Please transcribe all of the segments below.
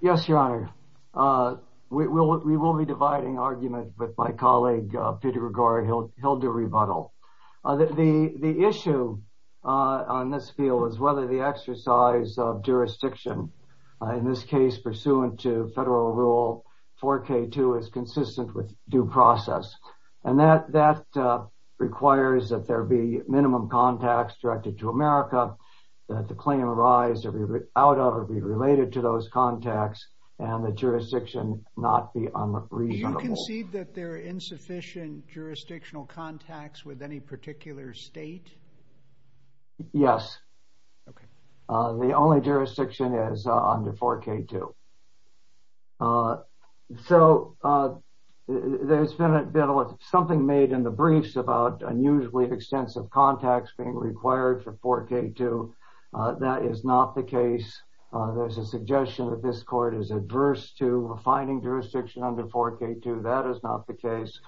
Yes, Your Honor. We will be dividing argument with my colleague, Peter Gregori. He'll do rebuttal. The issue on this field is whether the exercise of jurisdiction, in this case pursuant to federal rule 4K2, is consistent with due process. And that requires that there be a claim arising out of or related to those contacts, and the jurisdiction not be unreasonable. Do you concede that there are insufficient jurisdictional contacts with any particular state? Yes. The only jurisdiction is under 4K2. So, there's been something made in the case. There's a suggestion that this court is adverse to a finding jurisdiction under 4K2. That is not the case.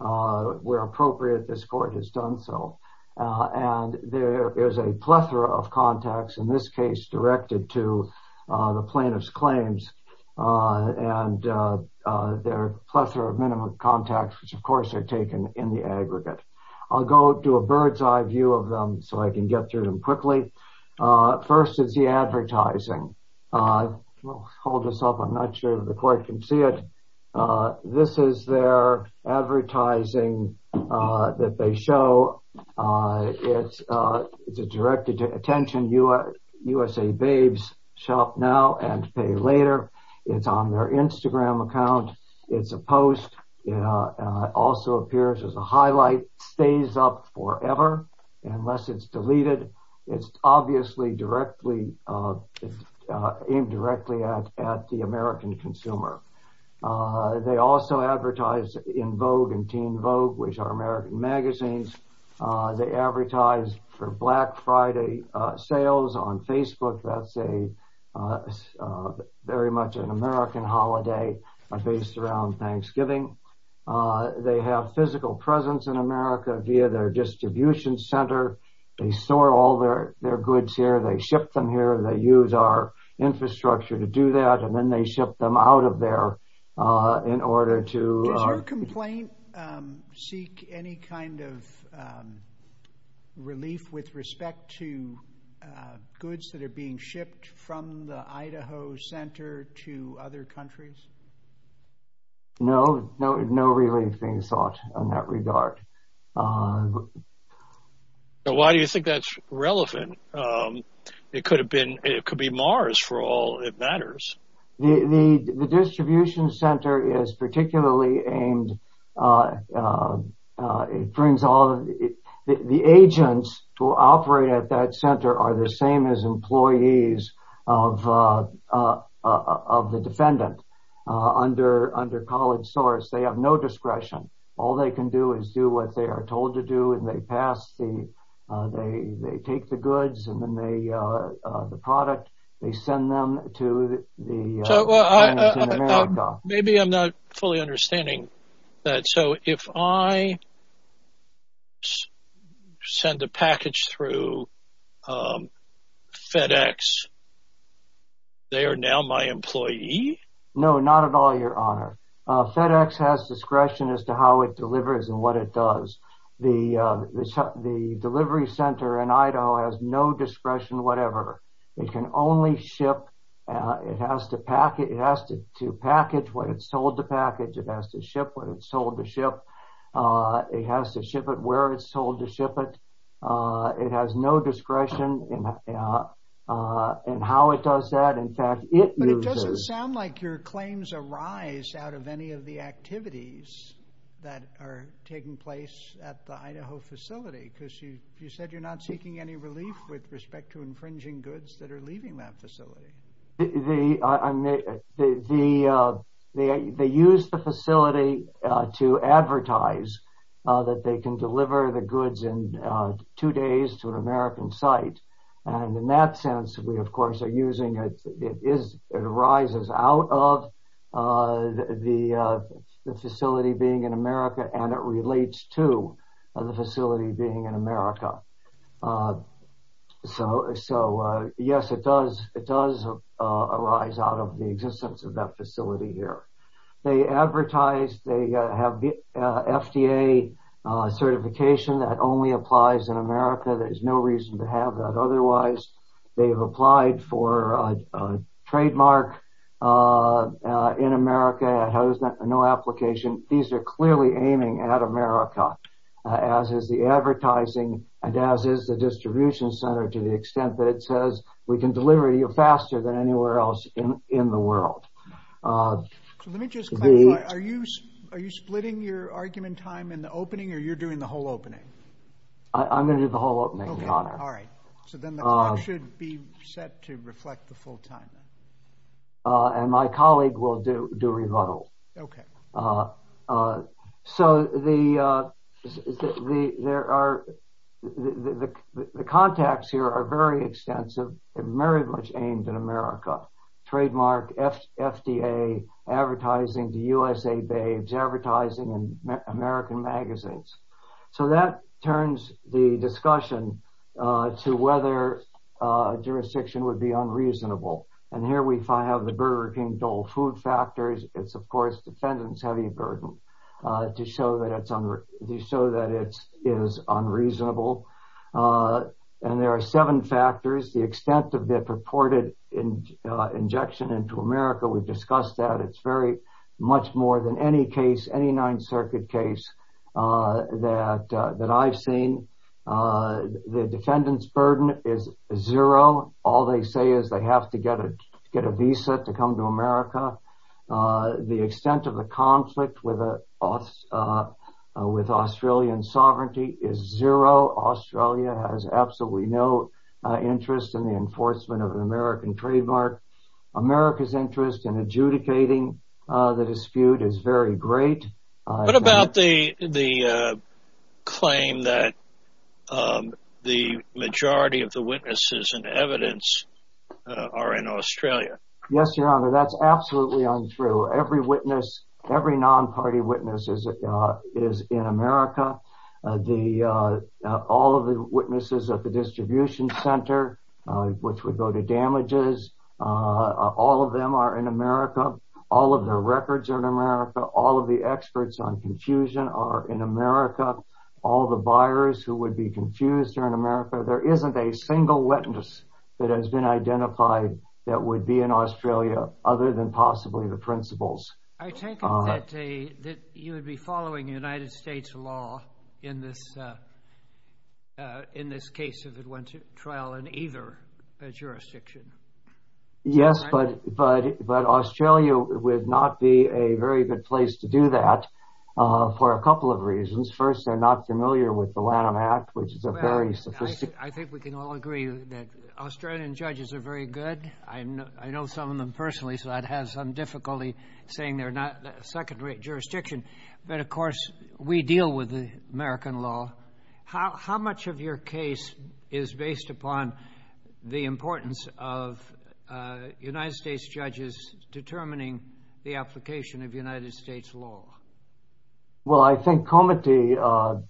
Where appropriate, this court has done so. And there is a plethora of contacts, in this case directed to the plaintiff's claims. And there are a plethora of minimum contacts, which, of course, are taken in the aggregate. I'll go to a bird's eye view of them so I can get through them quickly. First is the advertising. Hold this up. I'm not sure the court can see it. This is their advertising that they show. It's directed to attention USA Babes. Shop now and pay later. It's on their Instagram account. It's a post. It also appears as a highlight. Stays up forever unless it's deleted. It's obviously aimed directly at the American consumer. They also advertise in Vogue and Teen Vogue, which are American magazines. They advertise for Black Friday sales on Facebook. That's a very much an American holiday based around Thanksgiving. They have physical presence in America via their distribution center. They store all their goods here. They ship them here. They use our infrastructure to do that. And then they ship them out of there in order to... Seek any kind of relief with respect to goods that are being shipped from the Idaho Center to other countries? No, no relief being sought in that regard. Why do you think that's relevant? It could be Mars for all that matters. The distribution center is particularly aimed... The agents who operate at that center are the same as employees of the defendant under college source. They have no discretion. All they can do is do what they are told to do and they pass the... They take the goods and then the product. They send them to the... Maybe I'm not fully understanding that. So if I send a package through FedEx, they are now my employee? No, not at all, your honor. FedEx has discretion as to how it delivers and what it does. The delivery center in Idaho has no discretion, whatever. It can only ship... It has to package what it's told to package. It has to ship what it's told to ship. It has to ship it where it's told to ship it. It has no discretion in how it does that. In fact, it uses... But it doesn't sound like your claims arise out of any of the activities that are taking place at the Idaho facility because you said you're not seeking any relief with respect to infringing goods that are leaving that facility. They use the facility to advertise that they can deliver the goods in two days to an American site. And in that sense, we of course are using... It arises out of the facility being in America and relates to the facility being in America. So yes, it does arise out of the existence of that facility here. They advertise, they have FDA certification that only applies in America. There's no reason to have that otherwise. They've applied for a trademark in America. No application. These are clearly aiming at America, as is the advertising and as is the distribution center to the extent that it says we can deliver you faster than anywhere else in the world. So let me just... Are you splitting your argument time in the opening or you're doing the whole opening? I'm going to do the whole opening, Your Honor. Okay, all right. So then the clock should be set to reflect the full time. And my colleague will do rebuttal. Okay. So the contacts here are very extensive and very much aimed at America. Trademark, FDA, advertising to USA Babes, advertising in American magazines. So that turns the discussion to whether jurisdiction would be unreasonable. And here we have the Burger King Dole food factors. It's of course, defendant's heavy burden to show that it is unreasonable. And there are seven factors, the extent of their purported injection into America. We've discussed that. It's very much more than any case, any Ninth Circuit case that I've seen. The defendant's burden is zero. All they say is they have to get a visa to come to America. The extent of the conflict with Australian sovereignty is zero. Australia has absolutely no interest in the enforcement of an American trademark. America's interest in adjudicating the dispute is very great. What about the claim that the majority of the witnesses and evidence are in Australia? Yes, Your Honor, that's absolutely untrue. Every non-party witness is in America. The, all of the witnesses at the distribution center, which would go to damages, all of them are in America. All of their records are in America. All of the experts on confusion are in America. All the buyers who would be confused are in America. There isn't a single witness that has been identified that would be in Australia other than possibly the principals. I take it that you would be following United States law in this case of trial in either jurisdiction. Yes, but Australia would not be a very good place to do that for a couple of reasons. First, they're not familiar with the Lanham Act, which is a very sophisticated... I think we can all agree that Australian judges are very good. I know some of saying they're not second rate jurisdiction, but of course we deal with the American law. How much of your case is based upon the importance of United States judges determining the application of United States law? Well, I think Comittee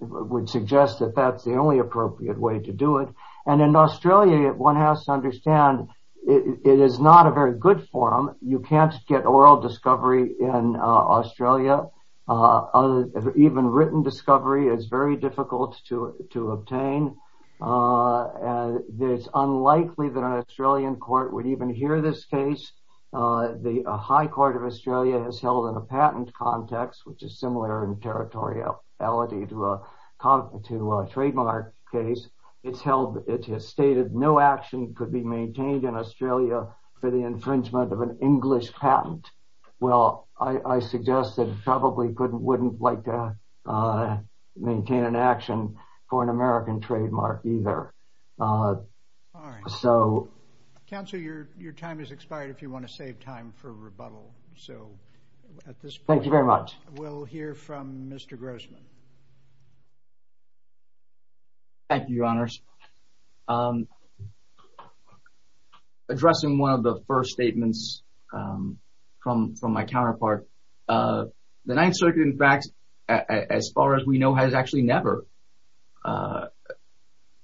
would suggest that that's the only appropriate way to do it. And in Australia, one has to understand it is not a very good forum. You can't get oral discovery in Australia. Even written discovery is very difficult to obtain. It's unlikely that an Australian court would even hear this case. The High Court of Australia has held in a patent context, which is similar in territoriality to a trademark case. It has stated no action could be maintained in Australia for the infringement of an English patent. Well, I suggest that it probably wouldn't like to maintain an action for an American trademark either. Counselor, your time has expired if you want to save time for rebuttal. Thank you very much. We'll hear from Mr. Grossman. Thank you, Your Honors. Addressing one of the first statements from my counterpart, the Ninth Circuit, in fact, as far as we know, has actually never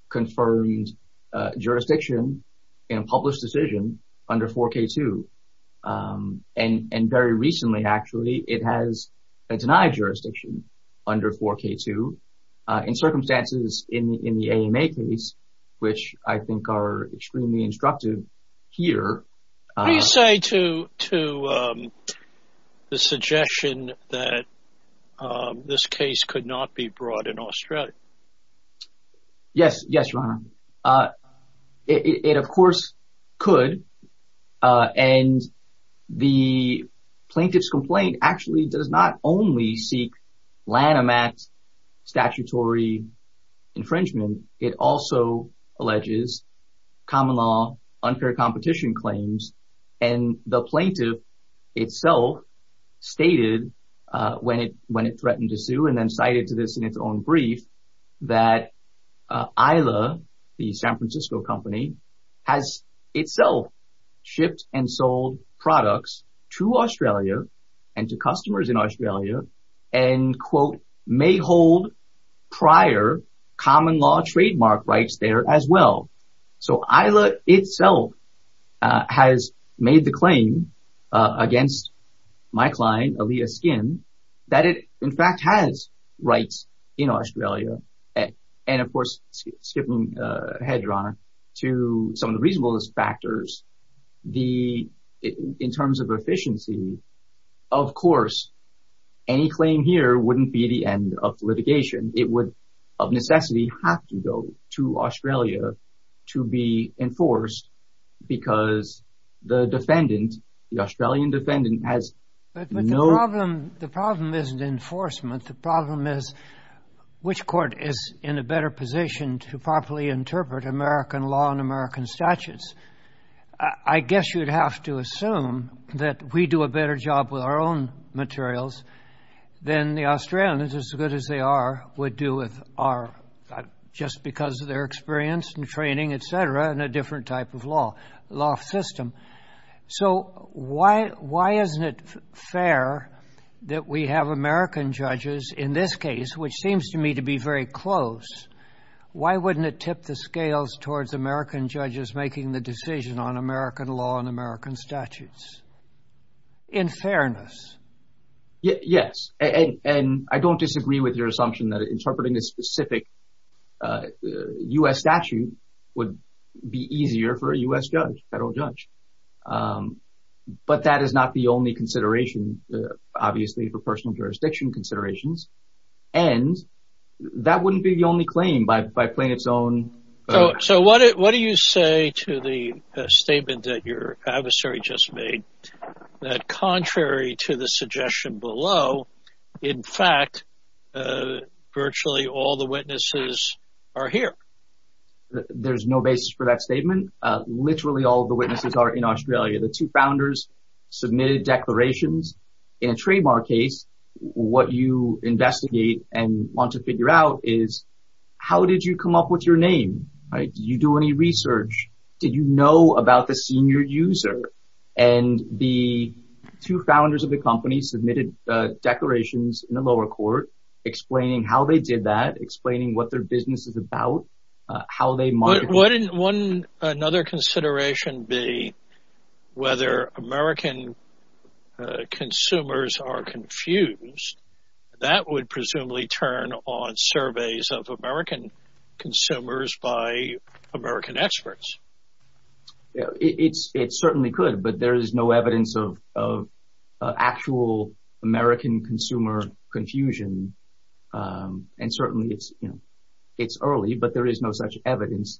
confirmed jurisdiction in a published decision under 4K2. And very recently, actually, it has jurisdiction under 4K2 in circumstances in the AMA case, which I think are extremely instructive here. What do you say to the suggestion that this case could not be brought in Australia? Yes. Yes, Your Honor. It, of course, could. And the plaintiff's complaint actually does not only seek Lanham Act statutory infringement. It also alleges common law unfair competition claims. And the plaintiff itself stated when it threatened to sue and then cited to this in its own brief, that Isla, the San Francisco company, has itself shipped and sold products to Australia and to customers in Australia and, quote, may hold prior common law trademark rights there as well. So Isla itself has made the claim against my client, Alia Skin, that it, in fact, has rights in Australia. And of course, skipping ahead, Your Honor, to some of the reasonableness factors, in terms of efficiency, of course, any claim here wouldn't be the end of litigation. It would, of necessity, have to go to Australia to be enforced because the defendant, the Australian defendant, has no... But the problem isn't enforcement. The problem is which court is in a better position to properly interpret American law and American statutes. I guess you'd have to assume that we do a better job with our own materials than the Australians, as good as they are, would do with our... Just because of their experience and training, et cetera, in a different type of law system. So why isn't it fair that we have American judges in this case, which seems to me to be very close, why wouldn't it tip the scales towards American judges making the decision on American law and American statutes? In fairness. Yes. And I don't disagree with your assumption that interpreting a specific U.S. statute would be easier for a U.S. judge, federal judge. But that is not the only consideration, obviously, for personal jurisdiction considerations. And that wouldn't be the only claim by plain its own... So what do you say to the statement that your adversary just made, that contrary to the suggestion below, in fact, virtually all the witnesses are here? There's no basis for that statement. Literally all of the witnesses are in Australia. The two founders submitted declarations. In a trademark case, what you investigate and want to figure out is how did you come up with your name? Did you do any research? Did you know about the senior user? And the two founders of the company submitted declarations in the lower court explaining how they did that, explaining what their business is about, how they market... Wouldn't another consideration be whether American consumers are confused? That would presumably turn on surveys of American consumers by American experts. Yeah, it certainly could, but there is no evidence of actual American consumer confusion. And certainly it's early, but there is no such evidence.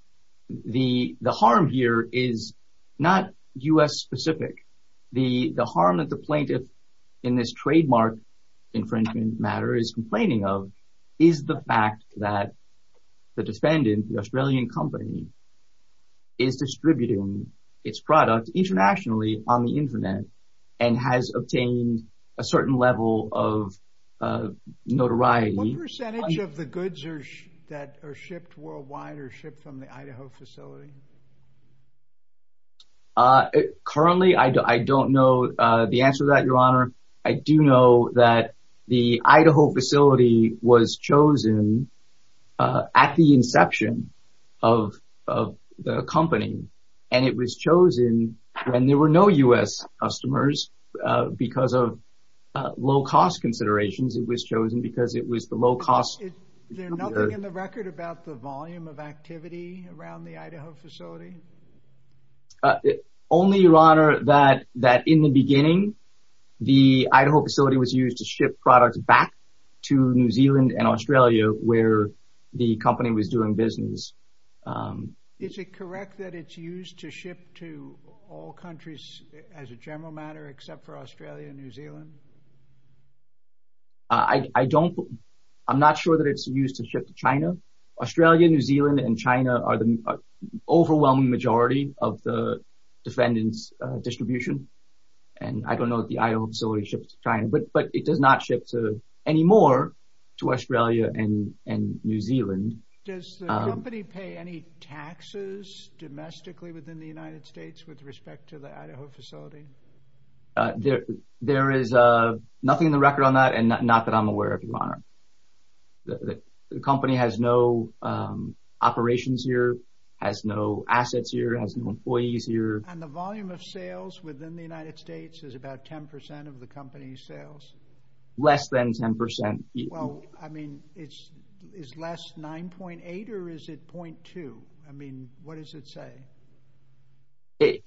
The harm here is not U.S. specific. The harm that the plaintiff in this trademark infringement matter is complaining of is the fact that the defendant, the Australian company, is distributing its product internationally on the internet and has obtained a certain level of notoriety. What percentage of the goods that are shipped worldwide are shipped from the Idaho facility? Currently, I don't know the answer to that, Your Honor. I do know that the Idaho facility was chosen at the inception of the company, and it was chosen when there were no U.S. customers because of low-cost considerations. It was chosen because it was the low-cost... There's nothing in the record about the volume of activity around the Idaho facility? Only, Your Honor, that in the beginning, the Idaho facility was used to ship products back to New Zealand and Australia where the company was doing business. Is it correct that it's used to ship to all countries as a general matter except for Australia and New Zealand? I'm not sure that it's used to ship to China. Australia, New Zealand, and China are the overwhelming majority of the defendant's distribution, and I don't know that the Idaho facility ships to China, but it does not ship anymore to Australia and New Zealand. Does the company pay any taxes domestically within the United States with respect to the Idaho facility? There is nothing in the record on that, and not that I'm aware of, Your Honor. The company has no operations here, has no assets here, has no employees here. And the volume of sales within the United States is about 10% of the company's sales? Less than 10%. Well, I mean, is less 9.8 or is it 0.2? I mean, what does it say? 2%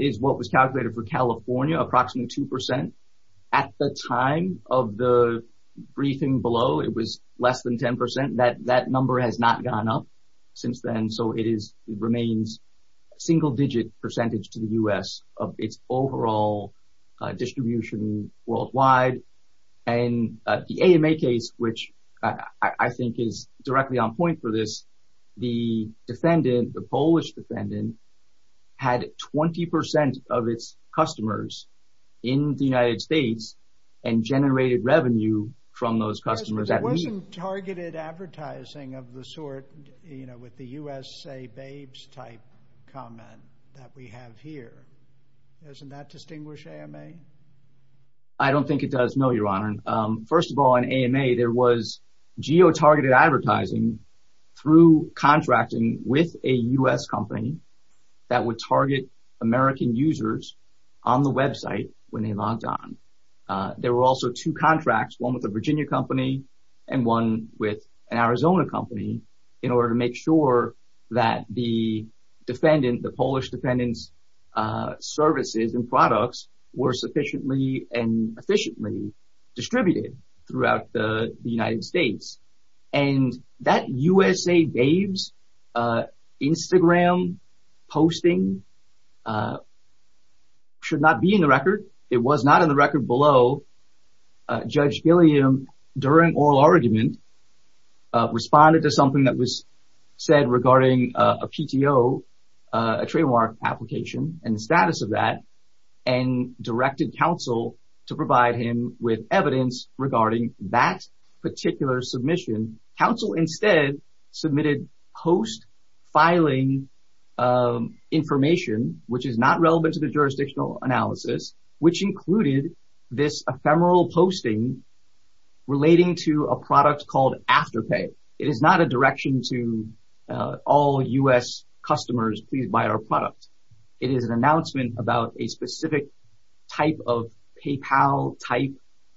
is what was calculated for California, approximately 2%. At the time of the briefing below, it was less than 10%. That number has not gone up since then, so it remains a single-digit percentage to the U.S. of its overall distribution worldwide. And the AMA case, which I think is directly on point for this, the defendant, the Polish defendant, had 20% of its customers in the United States and generated revenue from those customers. It wasn't targeted advertising of the sort, you know, with the USA Babes type comment that we have here. Doesn't that distinguish AMA? I don't think it does, no, Your Honor. First of all, in AMA, there was geo-targeted advertising through contracting with a U.S. company that would target American users on the website when they logged on. There were also two contracts, one with a Virginia company and one with an Arizona company, in order to make sure that the defendant, the Polish defendant's services and products were sufficiently and efficiently distributed throughout the United States. And that USA Babes Instagram posting should not be in the record. It was not in the record below. Judge Gilliam, during oral argument, responded to something that was said regarding a PTO, a trademark application, and the status of that, and directed counsel to provide him with evidence regarding that particular submission. Counsel instead submitted post-filing information, which is not relevant to the jurisdictional analysis, which included this ephemeral posting relating to a product called Afterpay. It is not a direction to all U.S. customers, please buy our product. It is an announcement about a specific type of PayPal-type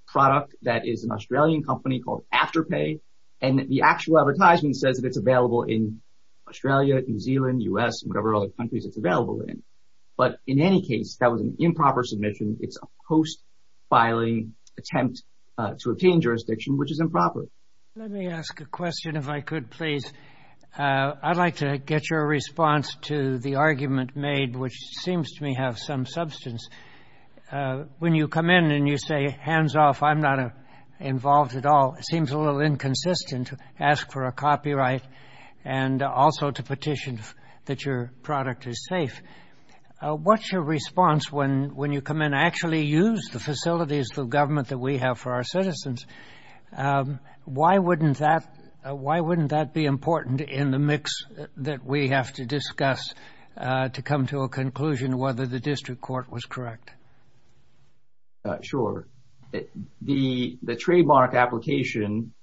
product that is an Australian company called Afterpay, and the actual advertisement says that it's available in Australia, New Zealand, U.S., and whatever other countries it's available in. But in any case, that was an improper submission. It's a post-filing attempt to obtain jurisdiction, which is improper. Let me ask a question, if I could, please. I'd like to get your response to the argument made, which seems to me to have some substance. When you come in and you say, hands off, I'm not involved at all, it seems a little inconsistent to ask for a copyright and also to petition that your product is safe. What's your response when you come in and actually use the facilities of government that we have for our citizens? Why wouldn't that be important in the mix that we have to discuss to come to a conclusion whether the district court was correct? Sure. The trademark application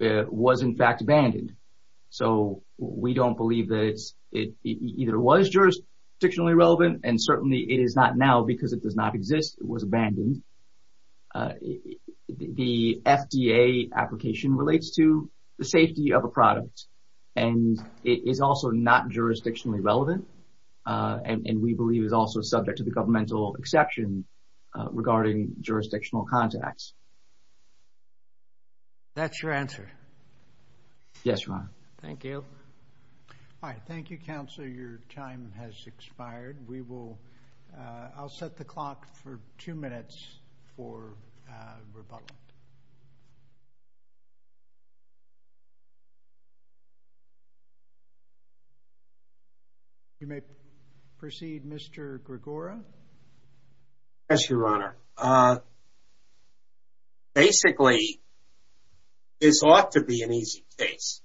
was in fact abandoned, so we don't believe that it either was jurisdictionally relevant, and certainly it is not now because it does not exist. It was also not jurisdictionally relevant, and we believe it was also subject to the governmental exception regarding jurisdictional contacts. That's your answer? Yes, Your Honor. Thank you. All right. Thank you, counsel. Your time has expired. I'll set the clock for two minutes for rebuttal. You may proceed, Mr. Gregora. Yes, Your Honor. Basically, this ought to be an easy case.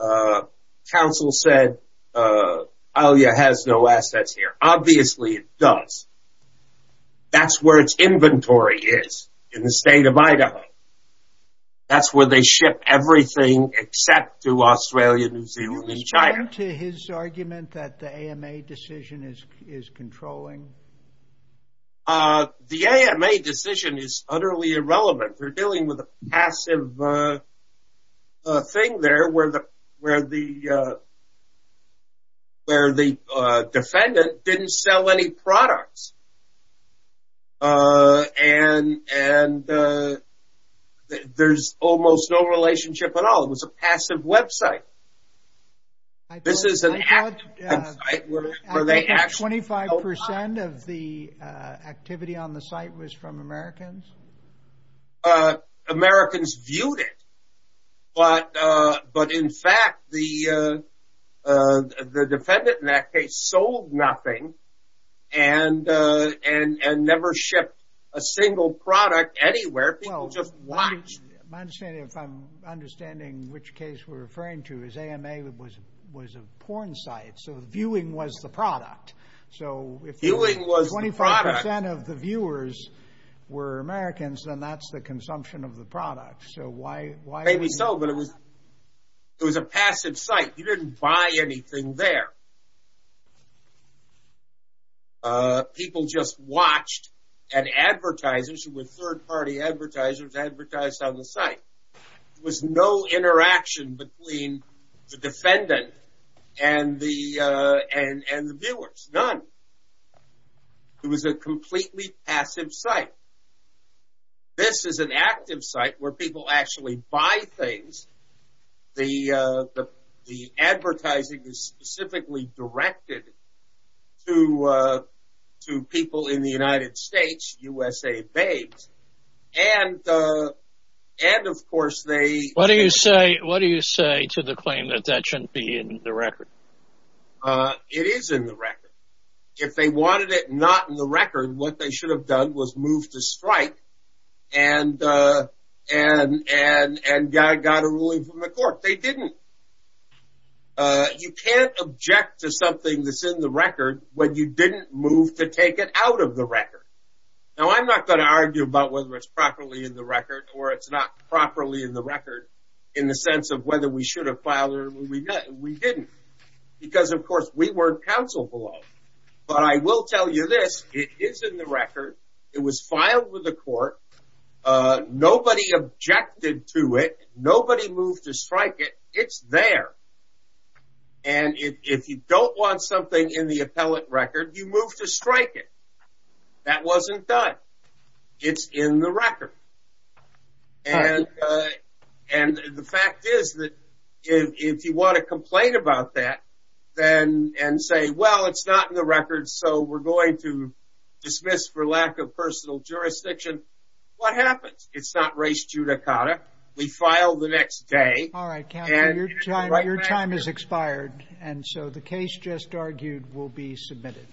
As counsel said, Alia has no assets here. Obviously, it does. That's where its inventory is in the state of Idaho. That's where they ship everything except to Australia, New Zealand, and China. Is it fair to his argument that the AMA decision is controlling? No. The AMA decision is utterly irrelevant. We're dealing with a passive thing there where the defendant didn't sell any products. There's almost no relationship at all. It was a passive website. I thought 25% of the activity on the site was from Americans. Americans viewed it, but in fact, the defendant in that case sold nothing and never shipped a single product anywhere. People just watched. My understanding, if I'm understanding which case we're referring to, is AMA was a porn site, so viewing was the product. If 25% of the viewers were Americans, then that's the consumption of the product. Maybe so, but it was a passive site. You didn't buy anything there. People just watched and advertisers, who were third-party advertisers, advertised on the site. There was no interaction between the defendant and the viewers, none. It was a completely passive site. This is an active site where people actually buy things. The advertising is specifically directed to people in the United States, USA-based. What do you say to the claim that that shouldn't be in the record? It is in the record. If they wanted it not in the record, what they should have done was move to strike and got a ruling from the court. They didn't. You can't object to something that's in the record when you didn't move to take it out of the record. I'm not going to argue about whether it's properly in the record or it's not properly in the record in the sense of whether we should have filed it or we didn't. Of course, we weren't counsel below. I will tell you this. It is in the court. Nobody objected to it. Nobody moved to strike it. It's there. If you don't want something in the appellate record, you move to strike it. That wasn't done. It's in the record. The fact is that if you want to complain about that and say, well, it's not in the record, we're going to dismiss for lack of personal jurisdiction, what happens? It's not race judicata. We file the next day. Your time has expired. The case just argued will be submitted.